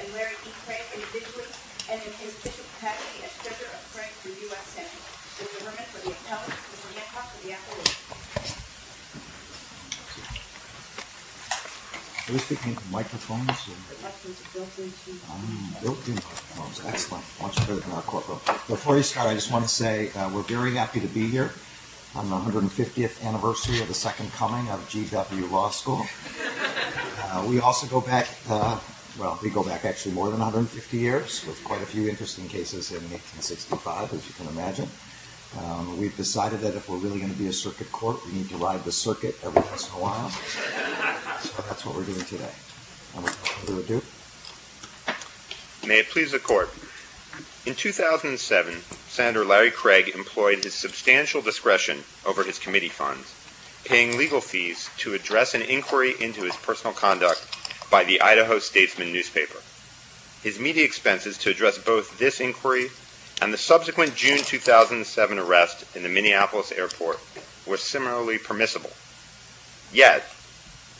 and Larry E. Craig, individually, and in his official capacity as treasurer of Craig for U.S. Senate. Mr. Herman for the appellate, Mr. Hancock for the appellate. Thank you. Are we speaking from microphones? The microphone is built-in. Built-in microphones. Excellent. Why don't you go to the corporal. Before I start, I just want to say we're very happy to be here on the 150th anniversary of the second coming of GW Law School. We also go back, well, we go back actually more than 150 years, with quite a few interesting cases in 1865, as you can imagine. We've decided that if we're really going to be a circuit court, we need to ride the circuit every once in a while. So that's what we're doing today. May it please the Court. In 2007, Senator Larry Craig employed his substantial discretion over his committee funds, paying legal fees to address an inquiry into his personal conduct by the Idaho Statesman newspaper. His media expenses to address both this inquiry and the subsequent June 2007 arrest in the Minneapolis airport were similarly permissible. Yet,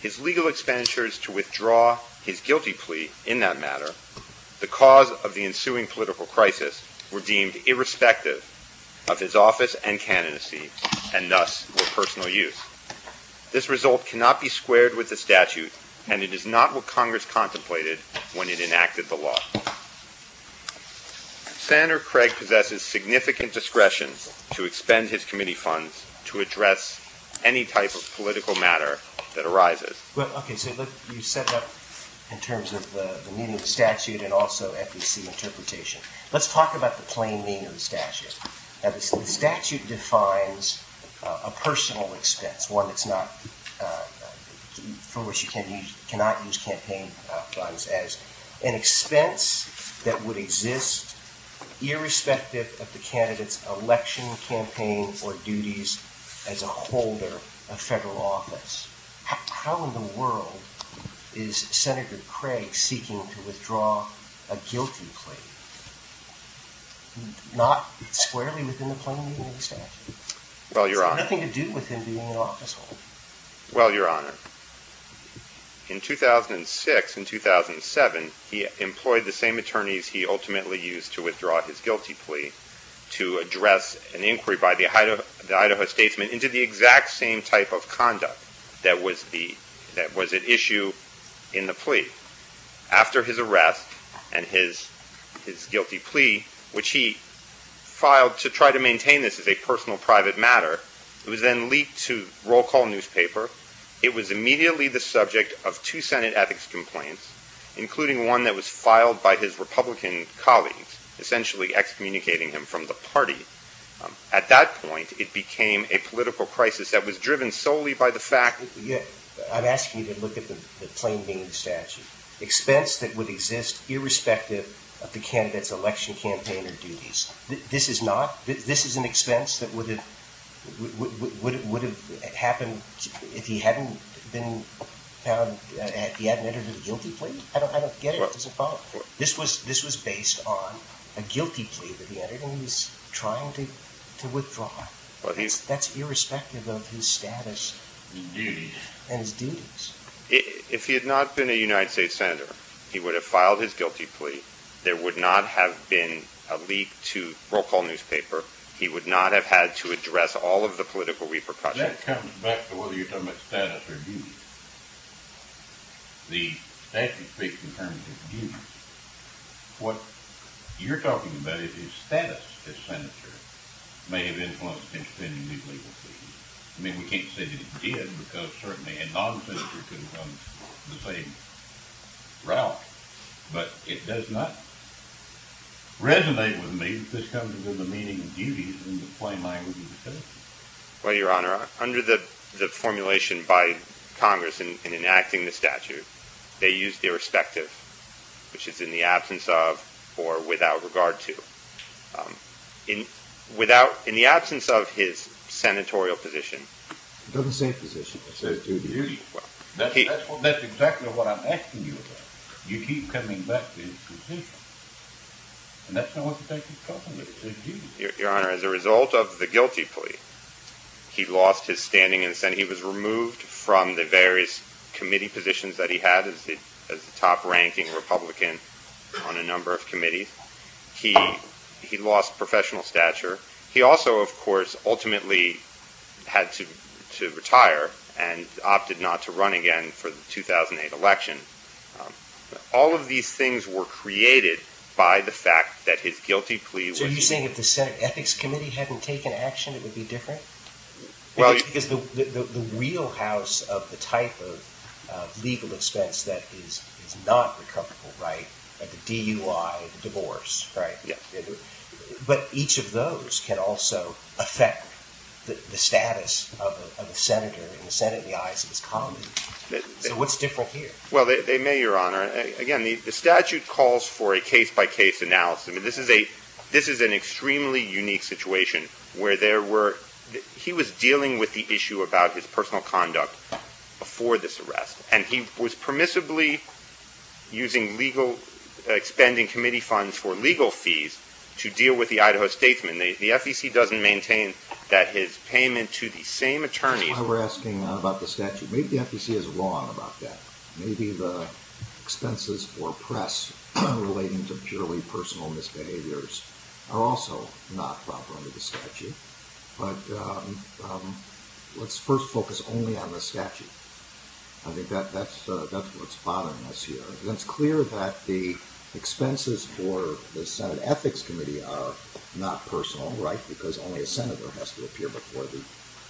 his legal expenditures to withdraw his guilty plea in that matter, the cause of the ensuing political crisis, were deemed irrespective of his office and candidacy, and thus were personal use. This result cannot be squared with the statute, and it is not what Congress contemplated when it enacted the law. Senator Craig possesses significant discretion to expend his committee funds to address any type of political matter that arises. Okay, so you set it up in terms of the meaning of the statute and also FEC interpretation. Let's talk about the plain meaning of the statute. The statute defines a personal expense, one for which you cannot use campaign funds, as an expense that would exist irrespective of the candidate's election campaign or duties as a holder of federal office. How in the world is Senator Craig seeking to withdraw a guilty plea? It's not squarely within the plain meaning of the statute. It has nothing to do with him being an officeholder. Well, Your Honor, in 2006 and 2007, he employed the same attorneys he ultimately used to withdraw his guilty plea to address an inquiry by the Idaho Statesman into the exact same type of conduct that was at issue in the plea. After his arrest and his guilty plea, which he filed to try to maintain this as a personal private matter, it was then leaked to Roll Call newspaper. It was immediately the subject of two Senate ethics complaints, including one that was filed by his Republican colleagues, essentially excommunicating him from the party. At that point, it became a political crisis that was driven solely by the fact... I'm asking you to look at the plain meaning of the statute. Expense that would exist irrespective of the candidate's election campaign or duties. This is an expense that would have happened if he hadn't entered a guilty plea? I don't get it. This was based on a guilty plea that he entered and he was trying to withdraw. That's irrespective of his status and his duties. If he had not been a United States Senator, he would have filed his guilty plea. There would not have been a leak to Roll Call newspaper. He would not have had to address all of the political repercussions. That comes back to whether you're talking about status or duties. The statute speaks in terms of duties. What you're talking about is his status as Senator. It may have influenced his spending these legal fees. We can't say that it did because certainly a non-Senator could have gone the same route, but it does not resonate with me that this comes with the meaning of duties in the plain language of the statute. Well, Your Honor, under the formulation by Congress in enacting the statute, they used irrespective, which is in the absence of or without regard to. In the absence of his senatorial position. It doesn't say position. It says duties. That's exactly what I'm asking you about. You keep coming back to your position. And that's not what the statute is talking about. It says duties. Your Honor, as a result of the guilty plea, he lost his standing in the Senate. He was removed from the various committee positions that he had as the top ranking Republican on a number of committees. He lost professional stature. He also, of course, ultimately had to retire and opted not to run again for the 2008 election. All of these things were created by the fact that his guilty plea. So you're saying if the Senate Ethics Committee hadn't taken action, it would be different? Well, it's because the wheelhouse of the type of legal expense that is not recoupable, right? The DUI, the divorce, right? Yeah. But each of those can also affect the status of a senator in the eyes of his commons. So what's different here? Well, they may, Your Honor. Again, the statute calls for a case-by-case analysis. I mean, this is an extremely unique situation where there were – he was dealing with the issue about his personal conduct before this arrest. And he was permissibly using legal – expending committee funds for legal fees to deal with the Idaho statesman. The FEC doesn't maintain that his payment to the same attorney – That's why we're asking about the statute. Maybe the FEC is wrong about that. Maybe the expenses for press relating to purely personal misbehaviors are also not proper under the statute. But let's first focus only on the statute. I think that's what's bothering us here. It's clear that the expenses for the Senate Ethics Committee are not personal, right? Because only a senator has to appear before the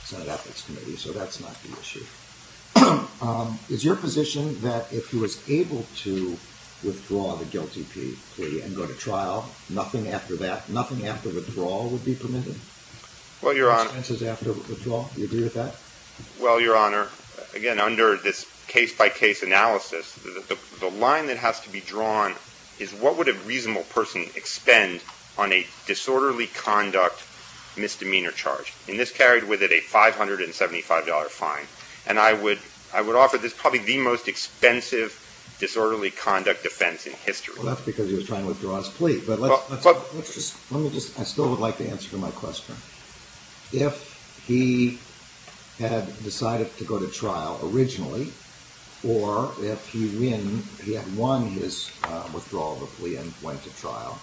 Senate Ethics Committee. So that's not the issue. Is your position that if he was able to withdraw the guilty plea and go to trial, nothing after that, nothing after withdrawal would be permitted? Well, Your Honor – Expenses after withdrawal. Do you agree with that? Well, Your Honor, again, under this case-by-case analysis, the line that has to be drawn is what would a reasonable person expend on a disorderly conduct misdemeanor charge? And this carried with it a $575 fine. And I would offer this probably the most expensive disorderly conduct offense in history. Well, that's because he was trying to withdraw his plea. But let's just – I still would like the answer to my question. If he had decided to go to trial originally, or if he had won his withdrawal of the plea and went to trial,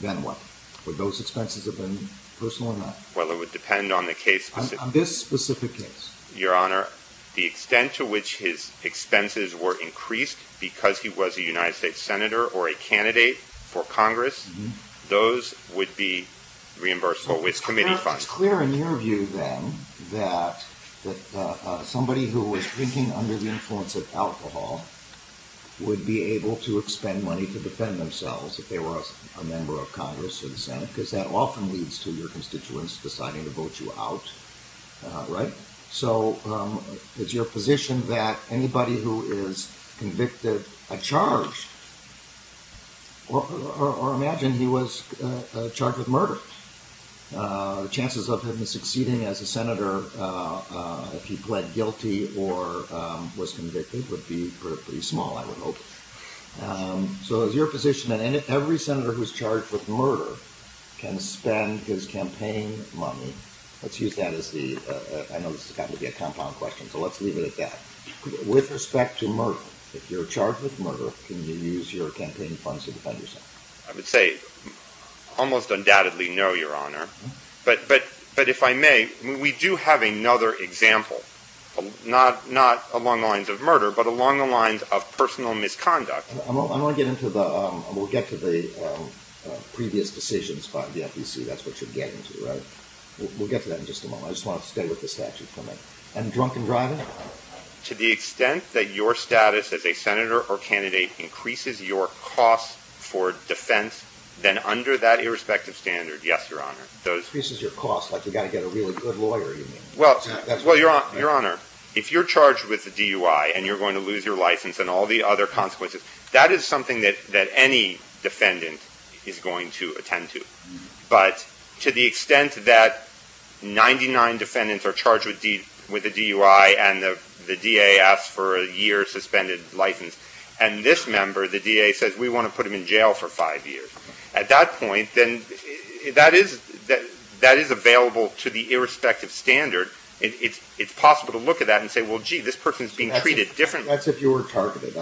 then what? Would those expenses have been personal or not? Well, it would depend on the case- On this specific case. Your Honor, the extent to which his expenses were increased because he was a United States senator or a candidate for Congress, those would be reimbursable with committee funds. It's clear in your view, then, that somebody who was drinking under the influence of alcohol would be able to expend money to defend themselves if they were a member of Congress or the Senate, because that often leads to your constituents deciding to vote you out, right? So is your position that anybody who is convicted, charged, or imagine he was charged with murder, chances of him succeeding as a senator if he pled guilty or was convicted would be pretty small, I would hope. So is your position that every senator who's charged with murder can spend his campaign money – let's use that as the – I know this has gotten to be a compound question, so let's leave it at that. With respect to murder, if you're charged with murder, can you use your campaign funds to defend yourself? I would say almost undoubtedly no, Your Honor. But if I may, we do have another example, not along the lines of murder, but along the lines of personal misconduct. I want to get into the – we'll get to the previous decisions by the FEC. That's what you're getting to, right? We'll get to that in just a moment. I just want to stay with the statute for a minute. And drunken driving? To the extent that your status as a senator or candidate increases your cost for defense, then under that irrespective standard, yes, Your Honor. Increases your cost, like you've got to get a really good lawyer, you mean? Well, Your Honor, if you're charged with a DUI and you're going to lose your license and all the other consequences, that is something that any defendant is going to attend to. But to the extent that 99 defendants are charged with a DUI and the DA asks for a year suspended license, and this member, the DA, says we want to put him in jail for five years, at that point, then that is available to the irrespective standard. It's possible to look at that and say, well, gee, this person is being treated differently. That's if you were targeted.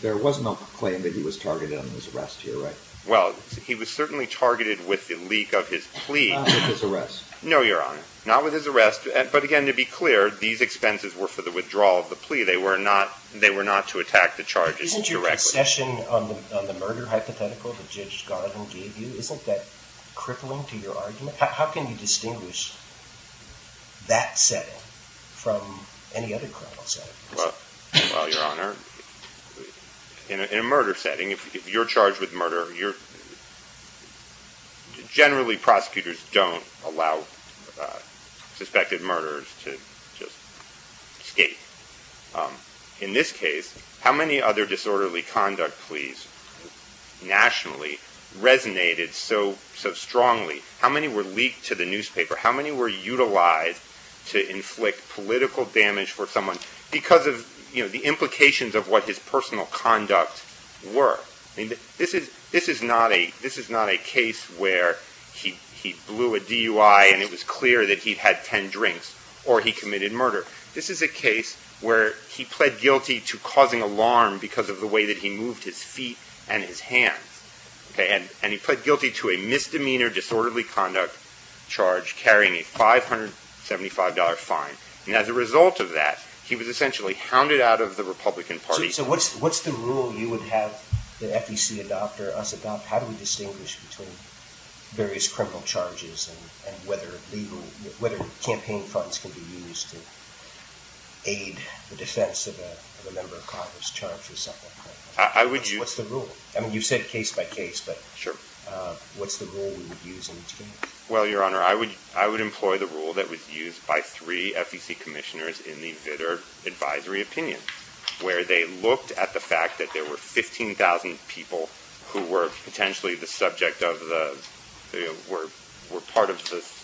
There was no claim that he was targeted on his arrest here, right? Well, he was certainly targeted with the leak of his plea. Not with his arrest? No, Your Honor. Not with his arrest. But again, to be clear, these expenses were for the withdrawal of the plea. They were not to attack the charges directly. The session on the murder hypothetical that Judge Garvin gave you, isn't that crippling to your argument? How can you distinguish that setting from any other criminal setting? Well, Your Honor, in a murder setting, if you're charged with murder, generally prosecutors don't allow suspected murderers to just escape. In this case, how many other disorderly conduct pleas nationally resonated so strongly? How many were leaked to the newspaper? How many were utilized to inflict political damage for someone because of the implications of what his personal conduct were? This is not a case where he blew a DUI and it was clear that he had ten drinks or he committed murder. This is a case where he pled guilty to causing alarm because of the way that he moved his feet and his hands. And he pled guilty to a misdemeanor disorderly conduct charge carrying a $575 fine. And as a result of that, he was essentially hounded out of the Republican Party. So what's the rule you would have the FEC adopt or us adopt? How do we distinguish between various criminal charges and whether campaign funds can be used to aid the defense of a member of Congress charged with something like that? What's the rule? I mean, you've said case by case, but what's the rule we would use in each case? Well, Your Honor, I would employ the rule that was used by three FEC commissioners in the Vitter advisory opinion, where they looked at the fact that there were 15,000 people who were potentially the subject of the, were part of this.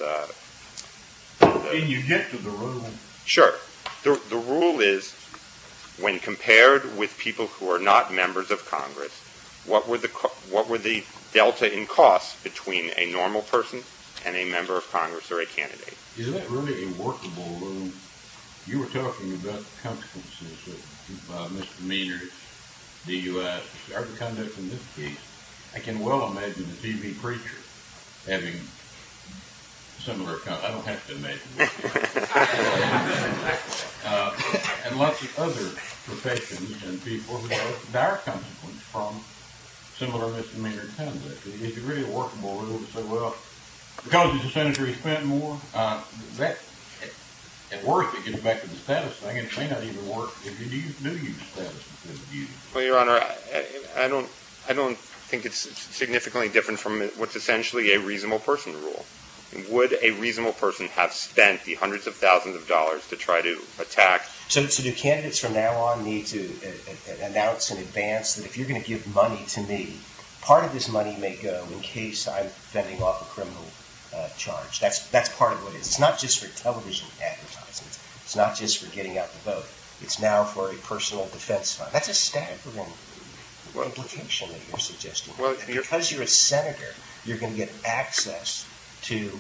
Can you get to the rule? Is that really a workable rule? You were talking about the consequences of misdemeanors. Do you regard the conduct in this case? I can well imagine the TV preacher having similar, I don't have to imagine. And lots of other professions and people with dire consequences from similar misdemeanor conduct. Is it really a workable rule to say, well, because he's a senator, he's spent more? At worst, it gets back to the status thing. It may not even work if you knew your status. Well, Your Honor, I don't think it's significantly different from what's essentially a reasonable person rule. Would a reasonable person have spent the hundreds of thousands of dollars to try to attack? So do candidates from now on need to announce in advance that if you're going to give money to me, part of this money may go in case I'm fending off a criminal charge. That's part of what it is. It's not just for television advertising. It's not just for getting out the vote. It's now for a personal defense fund. That's a staggering implication that you're suggesting. Because you're a senator, you're going to get access to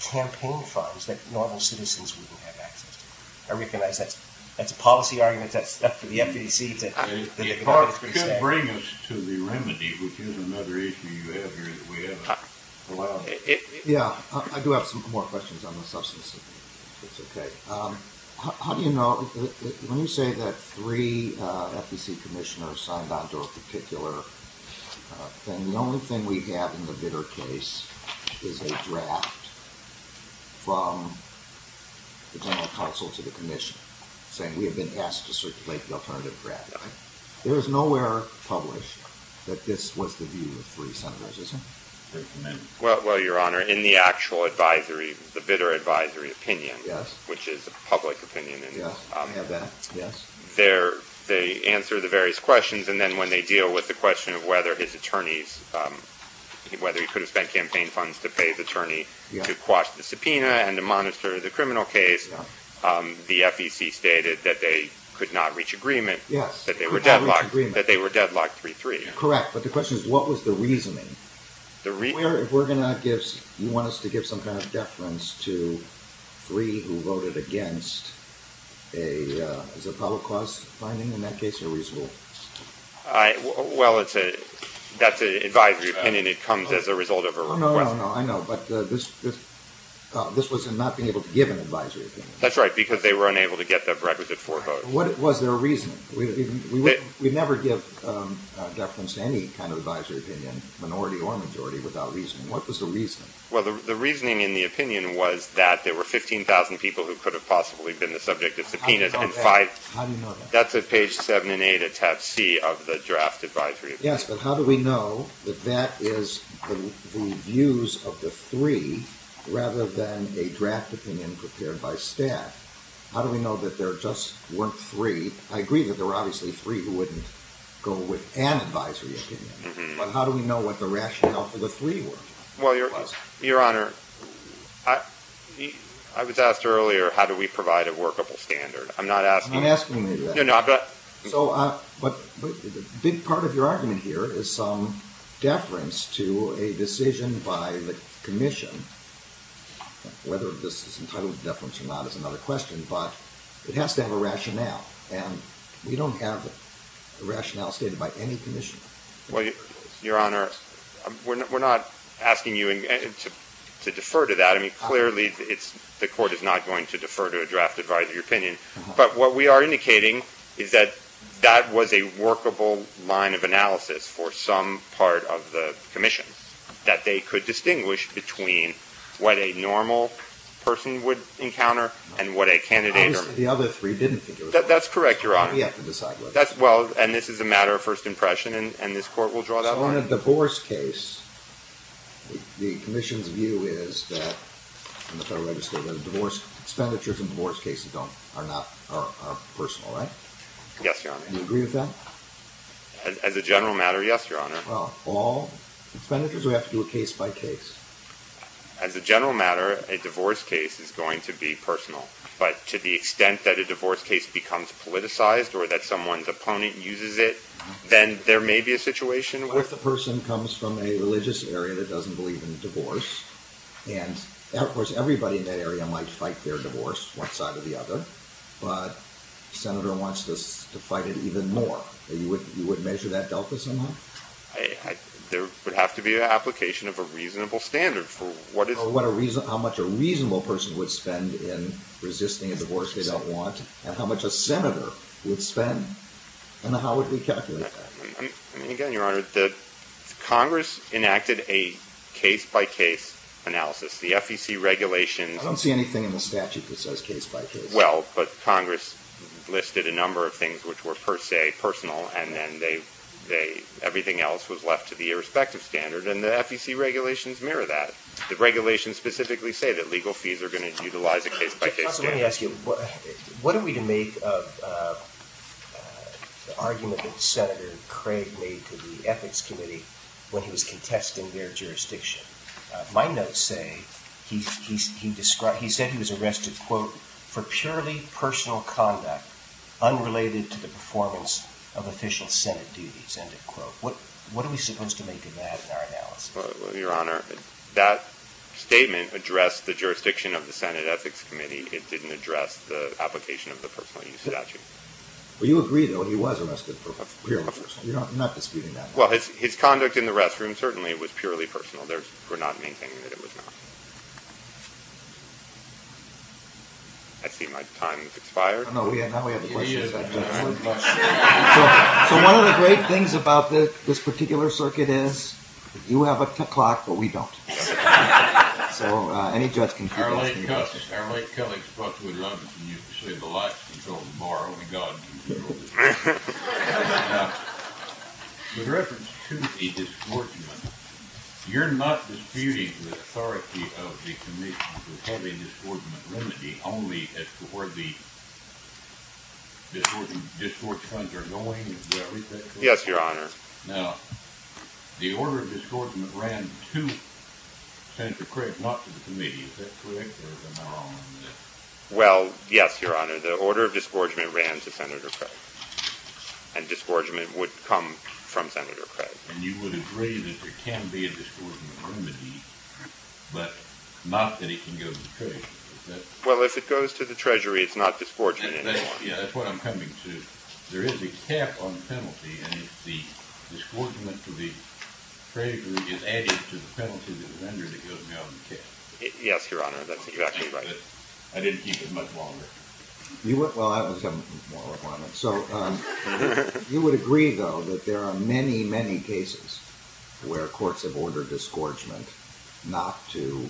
campaign funds that normal citizens wouldn't have access to. I recognize that's a policy argument. That's up to the FEC to decide. It could bring us to the remedy, which is another issue you have here that we haven't allowed. Yeah, I do have some more questions on the substance of it, if that's okay. How do you know, when you say that three FEC commissioners signed on to a particular thing, that the only thing we have in the Bitter case is a draft from the general counsel to the commission, saying we have been asked to circulate the alternative draft? There is nowhere published that this was the view of three senators, is there? Well, Your Honor, in the actual advisory, the Bitter advisory opinion, which is a public opinion, they answer the various questions, and then when they deal with the question of whether his attorneys, whether he could have spent campaign funds to pay his attorney to quash the subpoena and to monitor the criminal case, the FEC stated that they could not reach agreement, that they were deadlocked 3-3. Correct, but the question is, what was the reasoning? You want us to give some kind of deference to three who voted against a public cause finding? In that case, they're reasonable. Well, that's an advisory opinion, it comes as a result of a request. No, no, no, I know, but this was not being able to give an advisory opinion. That's right, because they were unable to get the requisite four votes. What was their reasoning? We never give deference to any kind of advisory opinion, minority or majority, without reasoning. What was the reasoning? Well, the reasoning in the opinion was that there were 15,000 people who could have possibly been the subject of subpoenas. How do you know that? That's at page 7 and 8 of tab C of the draft advisory opinion. Yes, but how do we know that that is the views of the three rather than a draft opinion prepared by staff? How do we know that there just weren't three? I agree that there were obviously three who wouldn't go with an advisory opinion, but how do we know what the rationale for the three were? Well, Your Honor, I was asked earlier how do we provide a workable standard. I'm not asking you that. You're not asking me that. No, no, I'm not. But a big part of your argument here is some deference to a decision by the commission. Whether this is entitled to deference or not is another question, but it has to have a rationale. And we don't have a rationale stated by any commission. Well, Your Honor, we're not asking you to defer to that. Clearly, the court is not going to defer to a draft advisory opinion. But what we are indicating is that that was a workable line of analysis for some part of the commission, that they could distinguish between what a normal person would encounter and what a candidate would encounter. Obviously, the other three didn't think it was workable. That's correct, Your Honor. We have to decide whether. Well, and this is a matter of first impression, and this court will draw that line. Well, in a divorce case, the commission's view is that, and the federal legislature, that expenditures in divorce cases are personal, right? Yes, Your Honor. Do you agree with that? As a general matter, yes, Your Honor. Well, all expenditures? Or do we have to do a case by case? As a general matter, a divorce case is going to be personal. But to the extent that a divorce case becomes politicized or that someone's opponent uses it, then there may be a situation where. What if the person comes from a religious area that doesn't believe in divorce? And, of course, everybody in that area might fight their divorce, one side or the other. But the senator wants to fight it even more. You would measure that delta somehow? There would have to be an application of a reasonable standard for what is... How much a reasonable person would spend in resisting a divorce they don't want, and how much a senator would spend, and how would we calculate that? Again, Your Honor, Congress enacted a case-by-case analysis. The FEC regulations... I don't see anything in the statute that says case-by-case. Well, but Congress listed a number of things which were per se personal, and then everything else was left to the irrespective standard, and the FEC regulations mirror that. The regulations specifically say that legal fees are going to utilize a case-by-case standard. Counsel, let me ask you. What are we to make of the argument that Senator Craig made to the Ethics Committee when he was contesting their jurisdiction? My notes say he said he was arrested, quote, for purely personal conduct unrelated to the performance of official Senate duties, end of quote. What are we supposed to make of that in our analysis? Well, Your Honor, that statement addressed the jurisdiction of the Senate Ethics Committee. It didn't address the application of the personal use statute. Well, you agree, though, he was arrested for purely personal. You're not disputing that. Well, his conduct in the restroom certainly was purely personal. We're not maintaining that it was not. I see my time has expired. No, now we have a question. So one of the great things about this particular circuit is you have a clock, but we don't. So any judge can keep this. Our late colleague Spock would love it when you say the lights control the bar. Only God can control this. Now, with reference to the disgorgement, you're not disputing the authority of the Commission to have a disgorgement remedy only as to where the disgorge funds are going? Yes, Your Honor. Now, the order of disgorgement ran to Senator Craig, not to the committee. Is that correct? Well, yes, Your Honor. The order of disgorgement ran to Senator Craig. And disgorgement would come from Senator Craig. And you would agree that there can be a disgorgement remedy, but not that it can go to the Treasury? Well, if it goes to the Treasury, it's not disgorgement anymore. Yeah, that's what I'm coming to. There is a cap on the penalty, and the disgorgement to the Treasury is added to the penalty to the vendor that goes down the cap. Yes, Your Honor, that's exactly right. I didn't keep it much longer. Well, that was a moral requirement. So you would agree, though, that there are many, many cases where courts have ordered disgorgement not to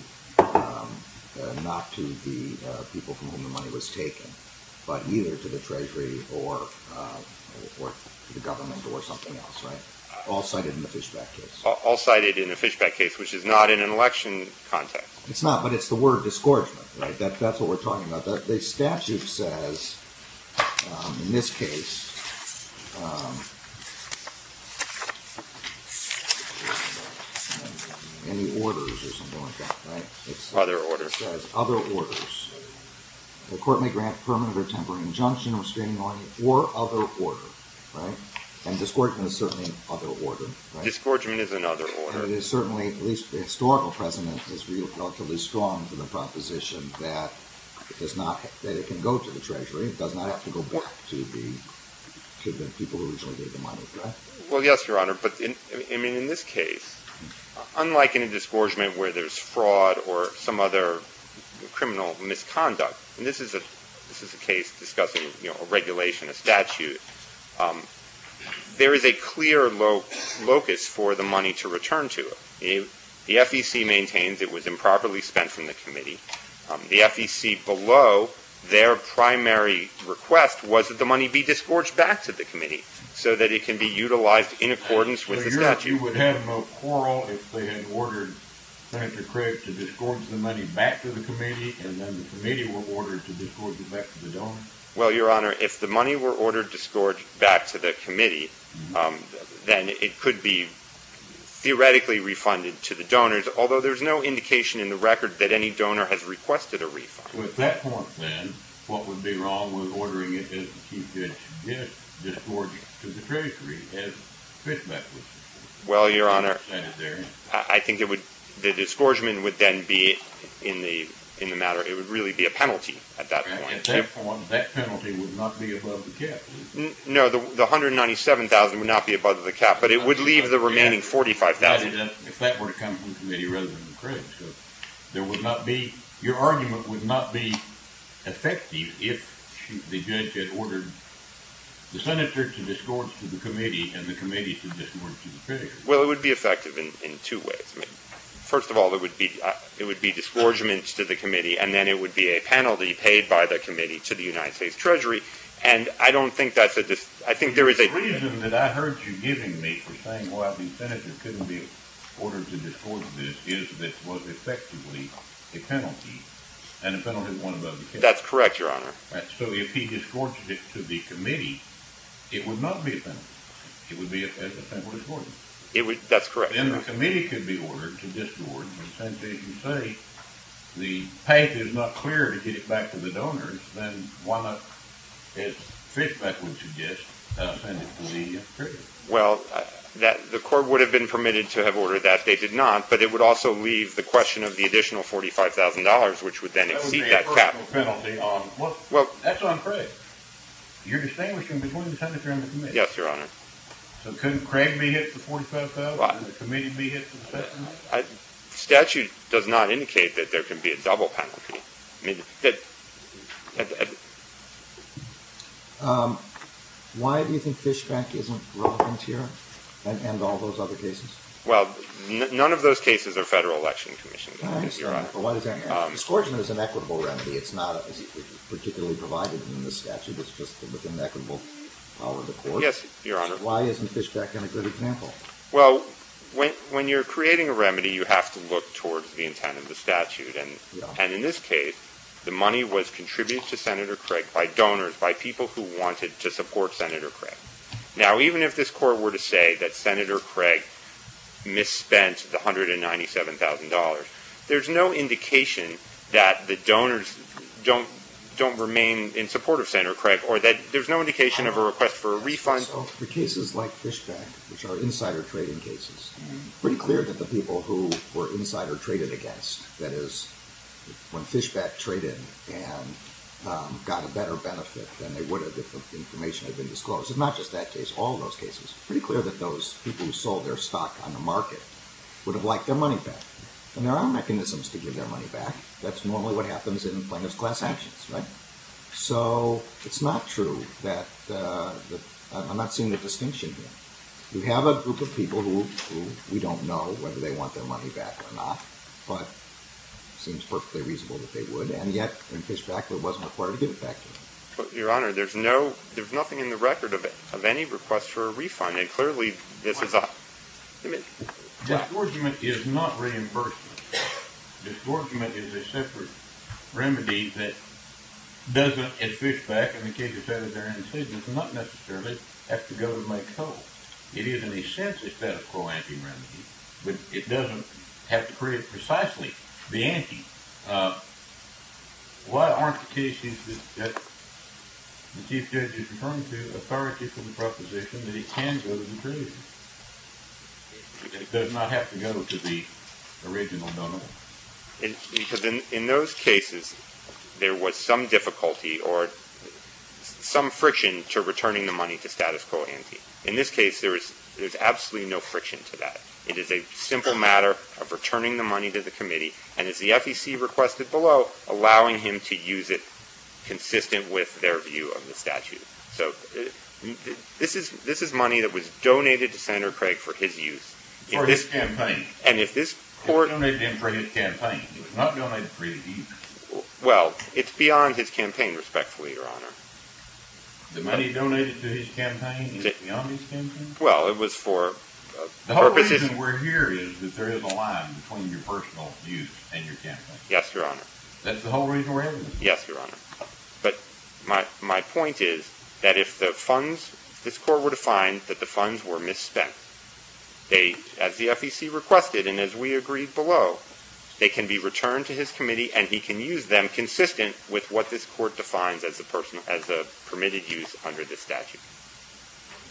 the people from whom the money was taken, but either to the Treasury or the government or something else, right? All cited in the Fishback case. All cited in the Fishback case, which is not in an election context. It's not, but it's the word disgorgement, right? That's what we're talking about. The statute says, in this case, any orders or something like that, right? Other orders. It says other orders. The court may grant permanent or temporary injunction, restraining order, or other order, right? And disgorgement is certainly an other order, right? Disgorgement is an other order. And it is certainly, at least the historical precedent, is relatively strong for the proposition that it can go to the Treasury. It does not have to go back to the people who originally gave the money, right? Well, yes, Your Honor, but in this case, unlike in a disgorgement where there's fraud or some other criminal misconduct, and this is a case discussing a regulation, a statute, there is a clear locus for the money to return to. The FEC maintains it was improperly spent from the committee. The FEC below, their primary request was that the money be disgorged back to the committee so that it can be utilized in accordance with the statute. So you would have no quarrel if they had ordered Senator Craig to disgorge the money back to the committee and then the committee were ordered to disgorge it back to the donor? Well, Your Honor, if the money were ordered disgorged back to the committee, then it could be theoretically refunded to the donors, although there's no indication in the record that any donor has requested a refund. Well, at that point, then, what would be wrong with ordering it to be disgorged to the treasury? Well, Your Honor, I think the disgorgement would then be in the matter. It would really be a penalty at that point. At that point, that penalty would not be above the cap. No, the $197,000 would not be above the cap, but it would leave the remaining $45,000. If that were to come from the committee rather than Craig. Your argument would not be effective if the judge had ordered the senator to disgorge to the committee and the committee to disgorge to the treasury. Well, it would be effective in two ways. First of all, it would be disgorgement to the committee, and then it would be a penalty paid by the committee to the United States Treasury. The reason that I heard you giving me for saying, well, the senator couldn't be ordered to disgorge this, is that it was effectively a penalty, and a penalty is one above the cap. That's correct, Your Honor. So if he disgorged it to the committee, it would not be a penalty. It would be a federal disgorgement. That's correct, Your Honor. Then the committee could be ordered to disgorge, but since, as you say, the path is not clear to get it back to the donors, then why not, as Fishbeck would suggest, send it to the treasury? Well, the court would have been permitted to have ordered that. They did not, but it would also leave the question of the additional $45,000, which would then exceed that cap. That would be a personal penalty. That's on Craig. You're distinguishing between the senator and the committee. Yes, Your Honor. So couldn't Craig be hit for $45,000, and the committee be hit for $45,000? The statute does not indicate that there can be a double penalty. Why do you think Fishbeck isn't relevant here and all those other cases? Well, none of those cases are federal election commissions, Your Honor. All right. But why does that matter? Disgorgement is an equitable remedy. It's not particularly provided in the statute. It's just within the equitable power of the court. Yes, Your Honor. Why isn't Fishbeck a good example? Well, when you're creating a remedy, you have to look towards the intent of the statute. And in this case, the money was contributed to Senator Craig by donors, by people who wanted to support Senator Craig. Now, even if this court were to say that Senator Craig misspent the $197,000, there's no indication that the donors don't remain in support of Senator Craig or that there's no indication of a request for a refund. So for cases like Fishbeck, which are insider trading cases, it's pretty clear that the people who were insider traded against, that is, when Fishbeck traded and got a better benefit than they would have if the information had been disclosed. It's not just that case. All of those cases, it's pretty clear that those people who sold their stock on the market would have liked their money back. And there are mechanisms to give their money back. That's normally what happens in plaintiff's class actions, right? So it's not true that—I'm not seeing the distinction here. We have a group of people who we don't know whether they want their money back or not, but it seems perfectly reasonable that they would. And yet, in Fishbeck, it wasn't required to give it back to them. Your Honor, there's nothing in the record of any request for a refund. And clearly, this is a— Disgorgement is not reimbursement. Disgorgement is a separate remedy that doesn't, in Fishbeck, and not necessarily have to go to Mike Coe. It is, in a sense, a set of co-ante remedies. But it doesn't have to create precisely the ante. Why aren't the cases that the Chief Judge is referring to authority from the proposition that it can go to the jury? It does not have to go to the original donor. Because in those cases, there was some difficulty or some friction to returning the money to status quo ante. In this case, there is absolutely no friction to that. It is a simple matter of returning the money to the committee, and as the FEC requested below, allowing him to use it consistent with their view of the statute. So this is money that was donated to Senator Craig for his use. For his campaign. And if this court— It was donated to him for his campaign. It was not donated for his use. Well, it's beyond his campaign, respectfully, Your Honor. The money donated to his campaign is beyond his campaign? Well, it was for purposes— The whole reason we're here is that there is a line between your personal use and your campaign. Yes, Your Honor. That's the whole reason we're here? Yes, Your Honor. But my point is that if the funds, if this court were to find that the funds were misspent, as the FEC requested and as we agreed below, they can be returned to his committee and he can use them consistent with what this court defines as a permitted use under this statute.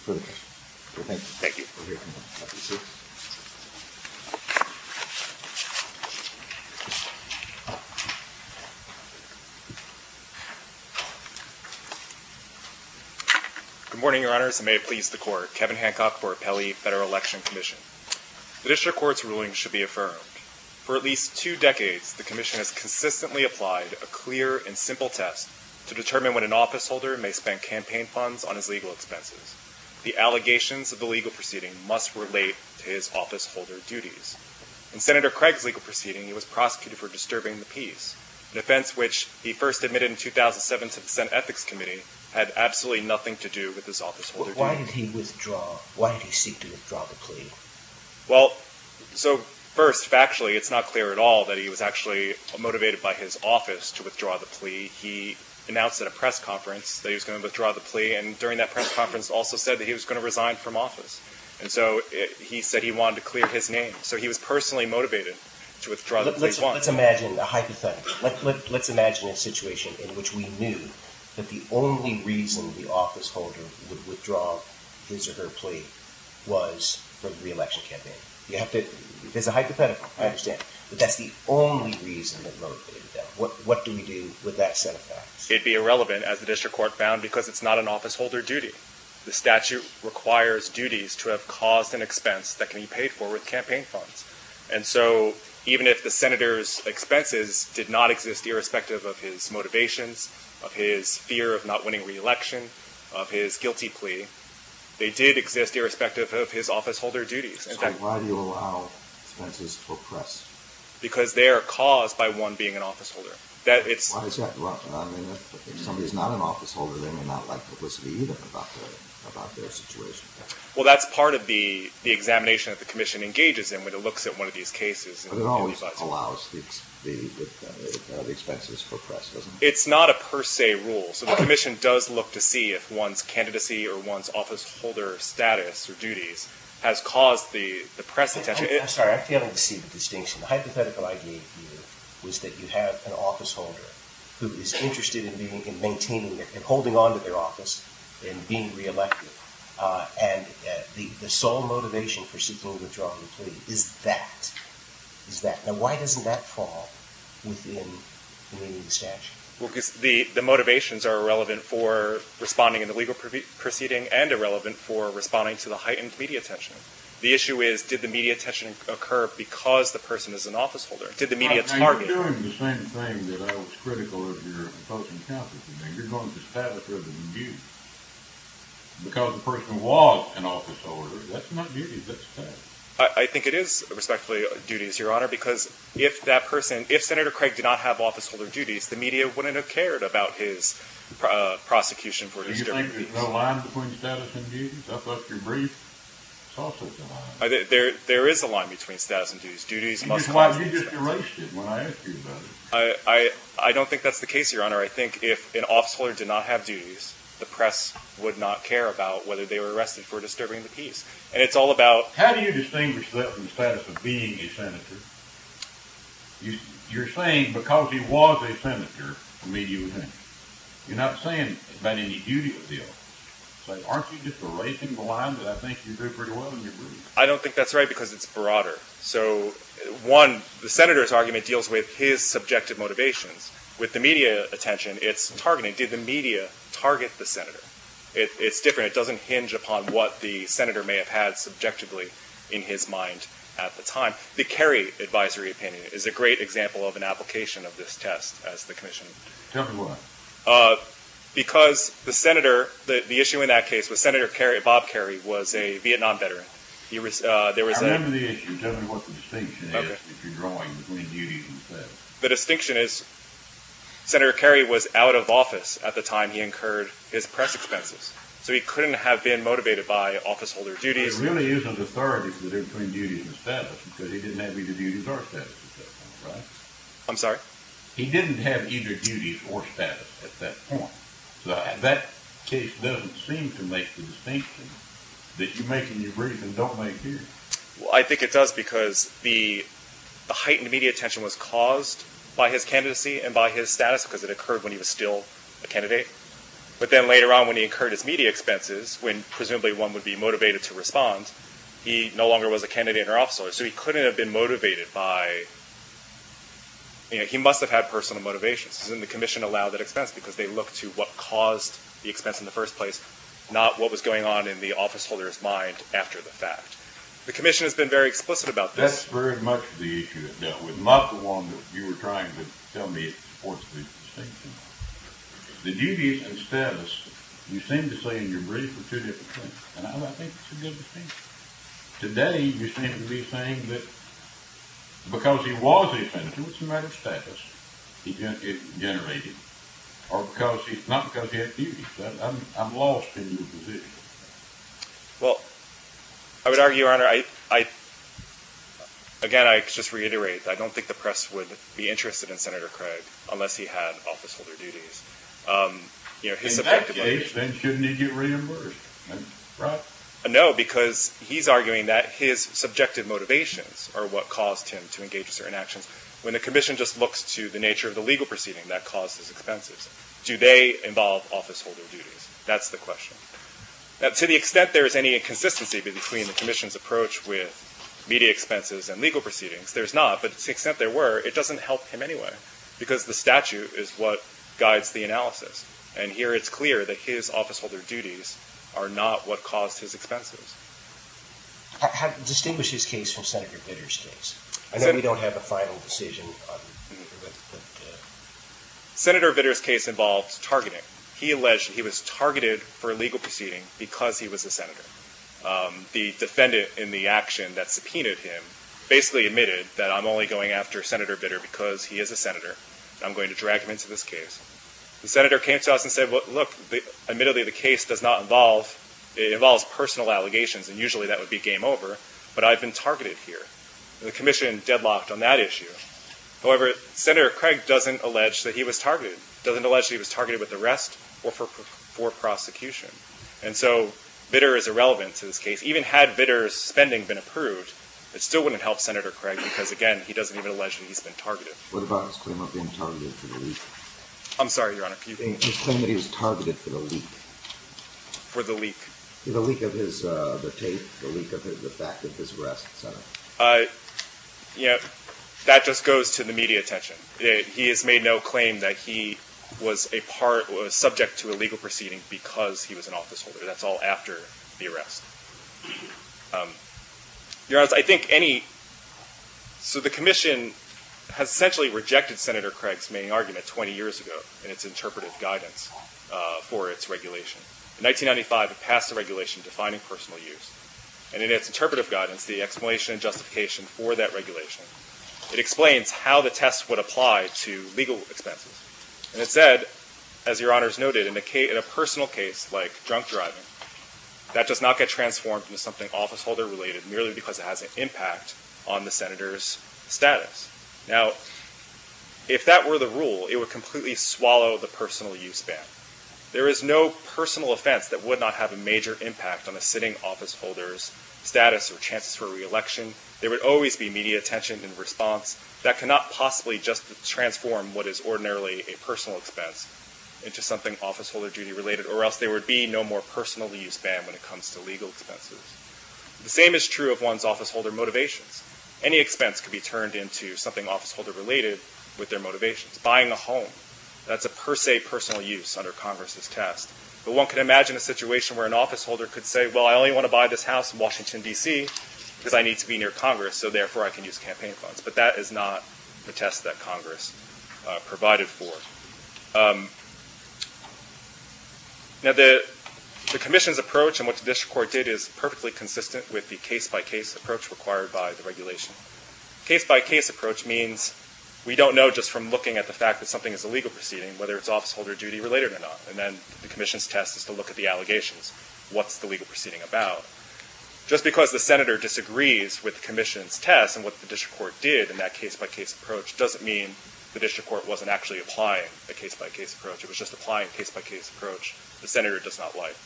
Thank you. Thank you. Good morning, Your Honors. And may it please the Court, Kevin Hancock for Appellee Federal Election Commission. The district court's ruling should be affirmed. For at least two decades, the commission has consistently applied a clear and simple test to determine when an officeholder may spend campaign funds on his legal expenses. The allegations of the legal proceeding must relate to his officeholder duties. In Senator Craig's legal proceeding, he was prosecuted for disturbing the peace, an offense which he first admitted in 2007 to the Senate Ethics Committee had absolutely nothing to do with his officeholder duties. Why did he withdraw? Why did he seek to withdraw the plea? Well, so first, factually, it's not clear at all that he was actually motivated by his office to withdraw the plea. He announced at a press conference that he was going to withdraw the plea, and during that press conference also said that he was going to resign from office. And so he said he wanted to clear his name. So he was personally motivated to withdraw the plea. Let's imagine a hypothetical. Let's imagine a situation in which we knew that the only reason the officeholder would withdraw his or her plea was for the re-election campaign. There's a hypothetical. I understand. But that's the only reason that motivated that. What do we do with that set of facts? It'd be irrelevant, as the district court found, because it's not an officeholder duty. The statute requires duties to have cost and expense that can be paid for with campaign funds. And so even if the senator's expenses did not exist irrespective of his motivations, of his fear of not winning re-election, of his guilty plea, they did exist irrespective of his officeholder duties. So why do you allow expenses to oppress? Because they are caused by one being an officeholder. Why is that? I mean, if somebody's not an officeholder, they may not like publicity either about their situation. Well, that's part of the examination that the commission engages in when it looks at one of these cases. But it always allows the expenses for press, doesn't it? It's not a per se rule. So the commission does look to see if one's candidacy or one's officeholder status or duties has caused the press attention. I'm sorry. I'm failing to see the distinction. The hypothetical idea here was that you have an officeholder who is interested in maintaining and holding on to their office and being re-elected. And the sole motivation for seeking to withdraw the plea is that. Now, why doesn't that fall within the statute? Well, because the motivations are irrelevant for responding in the legal proceeding and irrelevant for responding to the heightened media attention. The issue is, did the media attention occur because the person is an officeholder? Did the media target? Now, you're doing the same thing that I was critical of your opposing counsel. You're going to status rather than duties. Because the person was an officeholder, that's not duties, that's status. I think it is, respectfully, duties, Your Honor, because if that person, if Senator Craig did not have officeholder duties, the media wouldn't have cared about his prosecution for his different duties. You think there's no line between status and duties? I thought your brief saw such a line. There is a line between status and duties. That's why you just erased it when I asked you about it. I don't think that's the case, Your Honor. I think if an officeholder did not have duties, the press would not care about whether they were arrested for disturbing the peace. And it's all about... How do you distinguish that from the status of being a senator? You're saying because he was a senator, the media was in. You're not saying about any duty appeal. Aren't you just erasing the line that I think you drew pretty well in your brief? I don't think that's right because it's broader. So, one, the senator's argument deals with his subjective motivations. With the media attention, it's targeting. Did the media target the senator? It's different. It doesn't hinge upon what the senator may have had subjectively in his mind at the time. The Kerry advisory opinion is a great example of an application of this test as the commission... Tell me why. Because the issue in that case was Senator Bob Kerry was a Vietnam veteran. There was... I remember the issue. Tell me what the distinction is that you're drawing between duties and status. The distinction is Senator Kerry was out of office at the time he incurred his press expenses. So he couldn't have been motivated by officeholder duties. But it really is a catharsis that they're between duties and status because he didn't have either duties or status at that time, right? I'm sorry? He didn't have either duties or status at that point. So that case doesn't seem to make the distinction that you make in your brief and don't make here. Well, I think it does because the heightened media attention was caused by his candidacy and by his status because it occurred when he was still a candidate. But then later on when he incurred his media expenses, when presumably one would be motivated to respond, he no longer was a candidate or officeholder. So he couldn't have been motivated by... He must have had personal motivations. Doesn't the commission allow that expense because they look to what caused the expense in the first place, not what was going on in the officeholder's mind after the fact. The commission has been very explicit about this. That's very much the issue that dealt with. Not the one that you were trying to tell me it supports the distinction. The duties and status, you seem to say in your brief, are two different things. And I don't think it's a good distinction. Today, you seem to be saying that because he was a senator, it's a matter of status he generated. Or not because he had duties. I'm lost in your position. Well, I would argue, Your Honor, I... Again, I just reiterate that I don't think the press would be interested in Senator Craig unless he had officeholder duties. In that case, then shouldn't he get reimbursed? Right? Well, no, because he's arguing that his subjective motivations are what caused him to engage in certain actions. When the commission just looks to the nature of the legal proceeding that caused his expenses, do they involve officeholder duties? That's the question. Now, to the extent there is any inconsistency between the commission's approach with media expenses and legal proceedings, there's not, but to the extent there were, it doesn't help him anyway. Because the statute is what guides the analysis. And here it's clear that his officeholder duties are not what caused his expenses. Distinguish his case from Senator Vitter's case. I know we don't have a final decision. Senator Vitter's case involved targeting. He alleged he was targeted for a legal proceeding because he was a senator. The defendant in the action that subpoenaed him basically admitted that I'm only going after Senator Vitter because he is a senator. I'm going to drag him into this case. The senator came to us and said, look, admittedly the case does not involve, it involves personal allegations, and usually that would be game over, but I've been targeted here. And the commission deadlocked on that issue. However, Senator Craig doesn't allege that he was targeted. Doesn't allege that he was targeted with arrest or for prosecution. And so Vitter is irrelevant to this case. Even had Vitter's spending been approved, it still wouldn't help Senator Craig because, again, he doesn't even allege that he's been targeted. What about his claim of being targeted for the leak? I'm sorry, Your Honor. His claim that he was targeted for the leak. For the leak. The leak of his tape, the leak of the fact that his arrest, et cetera. You know, that just goes to the media attention. He has made no claim that he was a part, was subject to a legal proceeding because he was an officeholder. That's all after the arrest. Your Honor, I think any, so the commission has essentially rejected Senator Craig's main argument 20 years ago in its interpretive guidance for its regulation. In 1995, it passed a regulation defining personal use. And in its interpretive guidance, the explanation and justification for that regulation, it explains how the test would apply to legal expenses. And it said, as Your Honor's noted, in a personal case like drunk driving, that does not get transformed into something officeholder related, merely because it has an impact on the senator's status. Now, if that were the rule, it would completely swallow the personal use ban. There is no personal offense that would not have a major impact on a sitting officeholder's status or chances for reelection. There would always be media attention in response. That cannot possibly just transform what is ordinarily a personal expense into something officeholder duty related, or else there would be no more personal use ban when it comes to legal expenses. The same is true of one's officeholder motivations. Any expense could be turned into something officeholder related with their motivations. Buying a home, that's a per se personal use under Congress's test. But one could imagine a situation where an officeholder could say, well, I only want to buy this house in Washington, D.C. because I need to be near Congress, so therefore I can use campaign funds. But that is not the test that Congress provided for. Now, the commission's approach, and what the district court did, is perfectly consistent with the case-by-case approach required by the regulation. Case-by-case approach means we don't know just from looking at the fact that something is a legal proceeding whether it's officeholder duty related or not. And then the commission's test is to look at the allegations. What's the legal proceeding about? Just because the senator disagrees with the commission's test and what the district court did in that case-by-case approach doesn't mean the district court wasn't actually applying a case-by-case approach. It was just applying a case-by-case approach the senator does not like.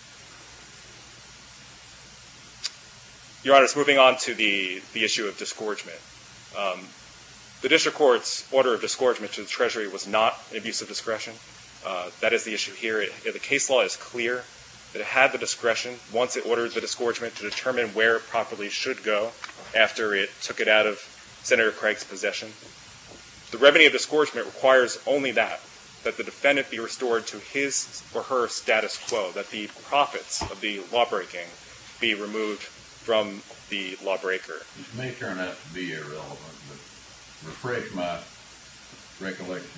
Your Honor, moving on to the issue of disgorgement. The district court's order of disgorgement to the Treasury was not an abuse of discretion. That is the issue here. The case law is clear that it had the discretion, once it ordered the disgorgement, to determine where it properly should go after it took it out of Senator Craig's possession. The revenue of disgorgement requires only that, that the defendant be restored to his or her status quo, that the profits of the lawbreaking be removed from the lawbreaker. This may turn out to be irrelevant, but refresh my recollection.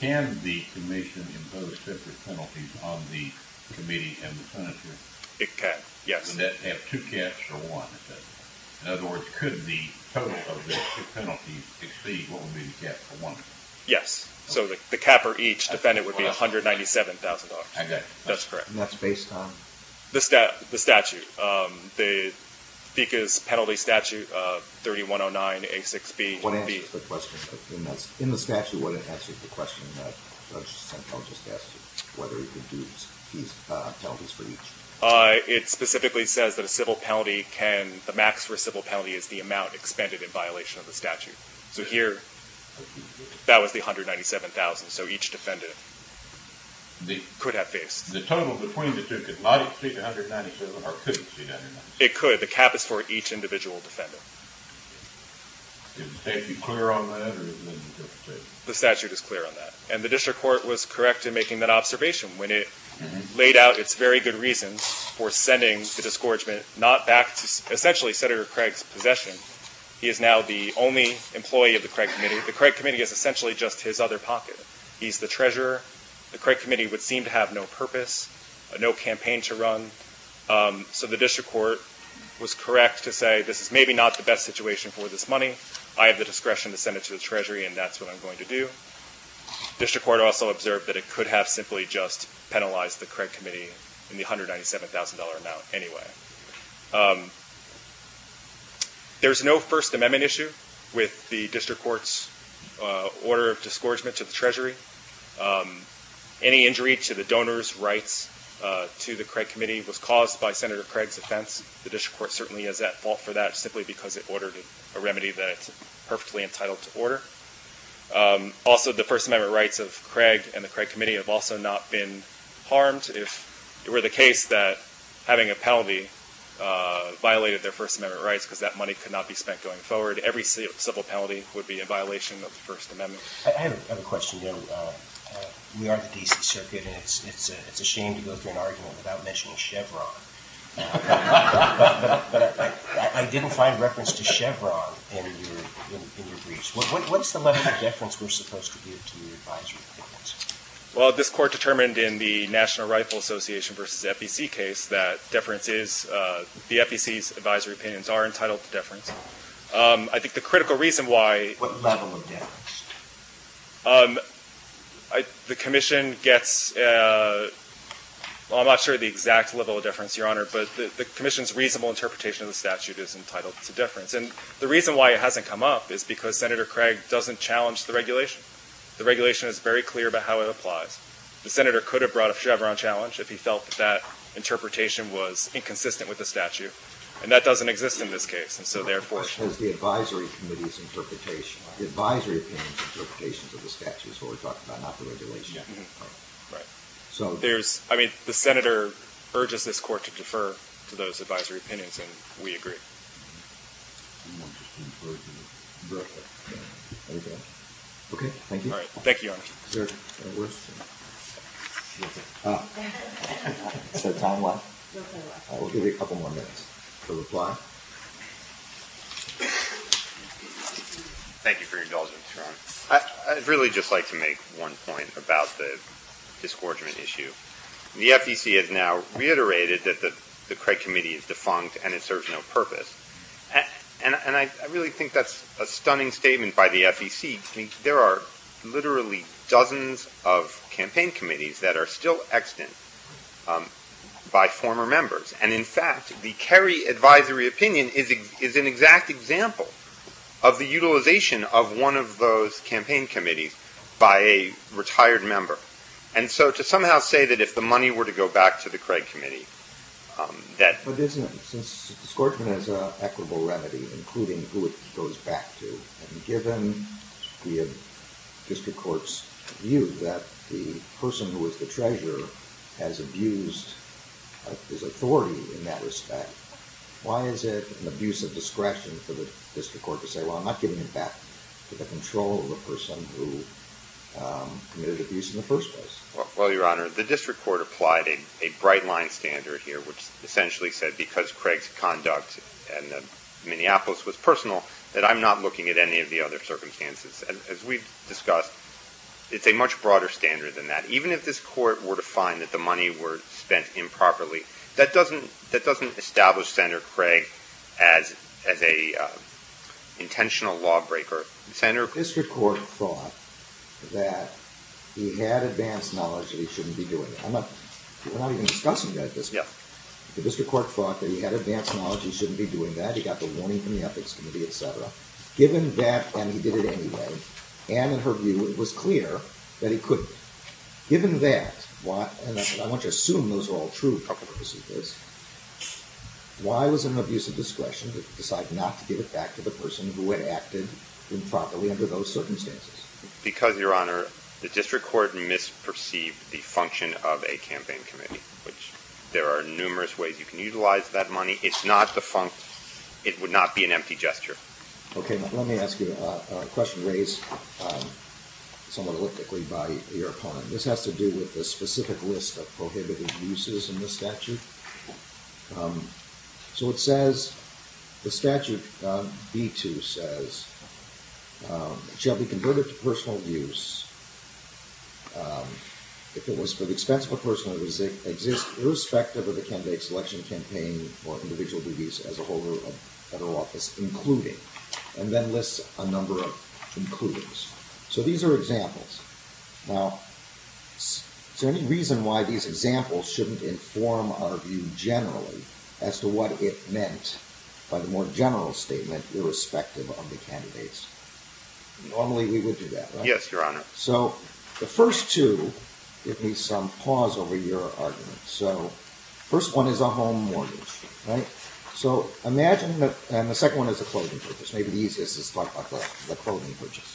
Can the commission impose separate penalties on the committee and the senator? It can, yes. Would that have two caps or one? In other words, could the total of the two penalties exceed what would be the cap for one? Yes. So the cap for each defendant would be $197,000. That's correct. And that's based on? The statute. The FECA's penalty statute 3109A6B-1B. In the statute, what it answers the question that Judge Santel just asked you, whether it could do these penalties for each? It specifically says that a civil penalty can, the max for a civil penalty is the amount expended in violation of the statute. So here, that was the $197,000. So each defendant could have faced. The total between the two could not exceed $197,000 or could exceed $197,000? It could. The cap is for each individual defendant. Is the statute clear on that? The statute is clear on that. And the district court was correct in making that observation. When it laid out its very good reasons for sending the disgorgement, not back to essentially Senator Craig's possession. He is now the only employee of the Craig Committee. The Craig Committee is essentially just his other pocket. He's the treasurer. The Craig Committee would seem to have no purpose, no campaign to run. So the district court was correct to say, this is maybe not the best situation for this money. I have the discretion to send it to the treasury and that's what I'm going to do. District court also observed that it could have simply just penalized the Craig Committee in the $197,000 amount anyway. There's no First Amendment issue with the district court's order of disgorgement to the treasury. Any injury to the donor's rights to the Craig Committee was caused by Senator Craig's offense. The district court certainly has that fault for that, simply because it ordered a remedy that it's perfectly entitled to order. Also, the First Amendment rights of Craig and the Craig Committee have also not been harmed. If it were the case that having a penalty violated their First Amendment rights, because that money could not be spent going forward, every civil penalty would be a violation of the First Amendment. I have another question. You know, we are the D.C. Circuit, and it's a shame to go through an argument without mentioning Chevron. But I didn't find reference to Chevron in your briefs. What's the level of deference we're supposed to give to your advisory opinions? Well, this court determined in the National Rifle Association v. FEC case that deference is, the FEC's advisory opinions are entitled to deference. I think the critical reason why- What level of deference? The commission gets, well, I'm not sure the exact level of deference, Your Honor, but the commission's reasonable interpretation of the statute is entitled to deference. And the reason why it hasn't come up is because Senator Craig doesn't challenge the regulation. The regulation is very clear about how it applies. The senator could have brought up Chevron challenge if he felt that interpretation was inconsistent with the statute, and that doesn't exist in this case. And so therefore- As the advisory committee's interpretation, the advisory opinion's interpretation of the statute is what we're talking about, not the regulation. Right. So- There's, I mean, the senator urges this court to defer to those advisory opinions, and we agree. Okay, thank you. All right. Thank you, Your Honor. Is there a question? Is that time-wise? We'll give you a couple more minutes for reply. Thank you for your indulgence, Your Honor. I'd really just like to make one point about the disgorgement issue. The FEC has now reiterated that the Craig Committee is defunct and it serves no purpose. And I really think that's a stunning statement by the FEC. There are literally dozens of campaign committees that are still extant by former members. And, in fact, the Kerry advisory opinion is an exact example of the utilization of one of those campaign committees by a retired member. And so to somehow say that if the money were to go back to the Craig Committee, that- But isn't it? Since disgorgement is an equitable remedy, including who it goes back to, and given the district court's view that the person who was the treasurer has abused his authority in that respect, why is it an abuse of discretion for the district court to say, well, I'm not giving it back to the control of the person who committed abuse in the first place? Well, Your Honor, the district court applied a bright-line standard here, which essentially said because Craig's conduct in Minneapolis was personal, that I'm not looking at any of the other circumstances. And as we've discussed, it's a much broader standard than that. Even if this court were to find that the money were spent improperly, that doesn't establish Senator Craig as an intentional lawbreaker. The district court thought that he had advanced knowledge that he shouldn't be doing it. We're not even discussing that at this point. The district court thought that he had advanced knowledge he shouldn't be doing that. He got the warning from the Ethics Committee, et cetera. Given that, and he did it anyway, and in her view, it was clear that he couldn't. Given that, and I want you to assume those are all true purposes of this, why was it an abuse of discretion to decide not to give it back to the person who had acted improperly under those circumstances? Because, Your Honor, the district court misperceived the function of a campaign committee, which there are numerous ways you can utilize that money. It's not the function. It would not be an empty gesture. Okay, let me ask you a question raised somewhat elliptically by your opponent. This has to do with the specific list of prohibited uses in the statute. So it says, the statute B-2 says, It shall be converted to personal use, if it was for the expense of a personal use, that exists irrespective of the candidate's election campaign or individual duties as a holder of federal office, including, and then lists a number of includings. So these are examples. Now, is there any reason why these examples shouldn't inform our view generally, as to what it meant by the more general statement, irrespective of the candidates? Normally, we would do that, right? Yes, Your Honor. So, the first two, give me some pause over your argument. So, the first one is a home mortgage, right? So, imagine that, and the second one is a clothing purchase. Maybe the easiest is to talk about the clothing purchase.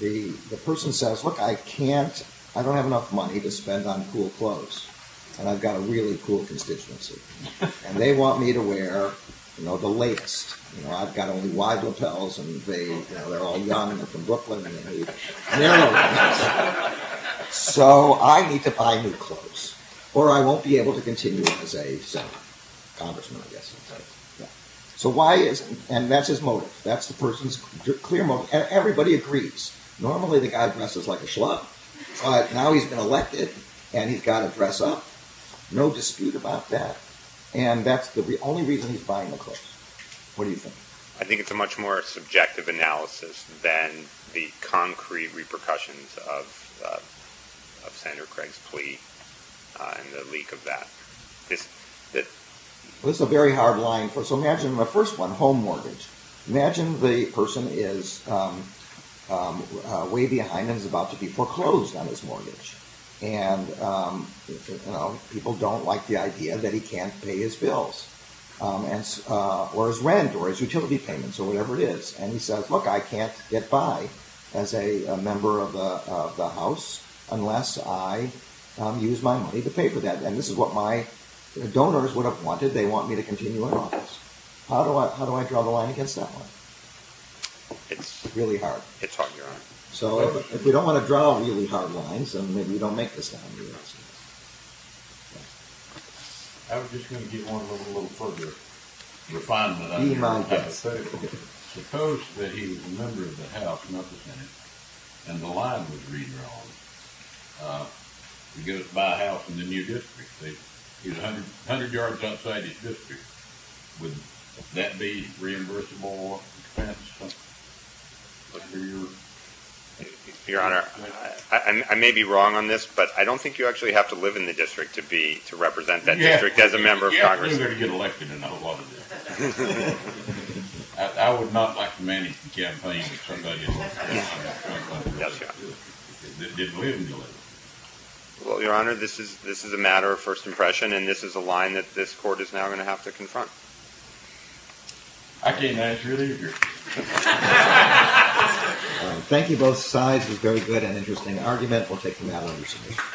The person says, look, I can't, I don't have enough money to spend on cool clothes. And I've got a really cool constituency. And they want me to wear, you know, the latest. You know, I've got only wide lapels, and they're all young, they're from Brooklyn. So, I need to buy new clothes. Or I won't be able to continue as a congressman, I guess. So why is, and that's his motive. That's the person's clear motive, and everybody agrees. Normally, the guy dresses like a schlub. But now he's been elected, and he's got to dress up. No dispute about that. And that's the only reason he's buying the clothes. What do you think? I think it's a much more subjective analysis than the concrete repercussions of Senator Craig's plea, and the leak of that. This is a very hard line. So, imagine the first one, home mortgage. Imagine the person is way behind and is about to be foreclosed on his mortgage. And, you know, people don't like the idea that he can't pay his bills, or his rent, or his utility payments, or whatever it is. And he says, look, I can't get by as a member of the House unless I use my money to pay for that. And this is what my donors would have wanted. They want me to continue in office. How do I draw the line against that one? It's really hard. It's hard, you're right. So, if we don't want to draw really hard lines, then maybe we don't make this down here. I was just going to give one little further refinement. Be my guest. Suppose that he's a member of the House, not the Senate, and the line was redrawn. He goes to buy a house in the new district. He's 100 yards outside his district. Would that be reimbursable expense? Your Honor, I may be wrong on this, but I don't think you actually have to live in the district to represent that district as a member of Congress. You have to live there to get elected, and I don't want to do that. I would not like to manage the campaign if somebody is not going to live in the district. They don't live in the district. Well, Your Honor, this is a matter of first impression, and this is a line that this Court is now going to have to confront. I can't manage really. Thank you both sides. It was a very good and interesting argument. We'll take the matter under submission.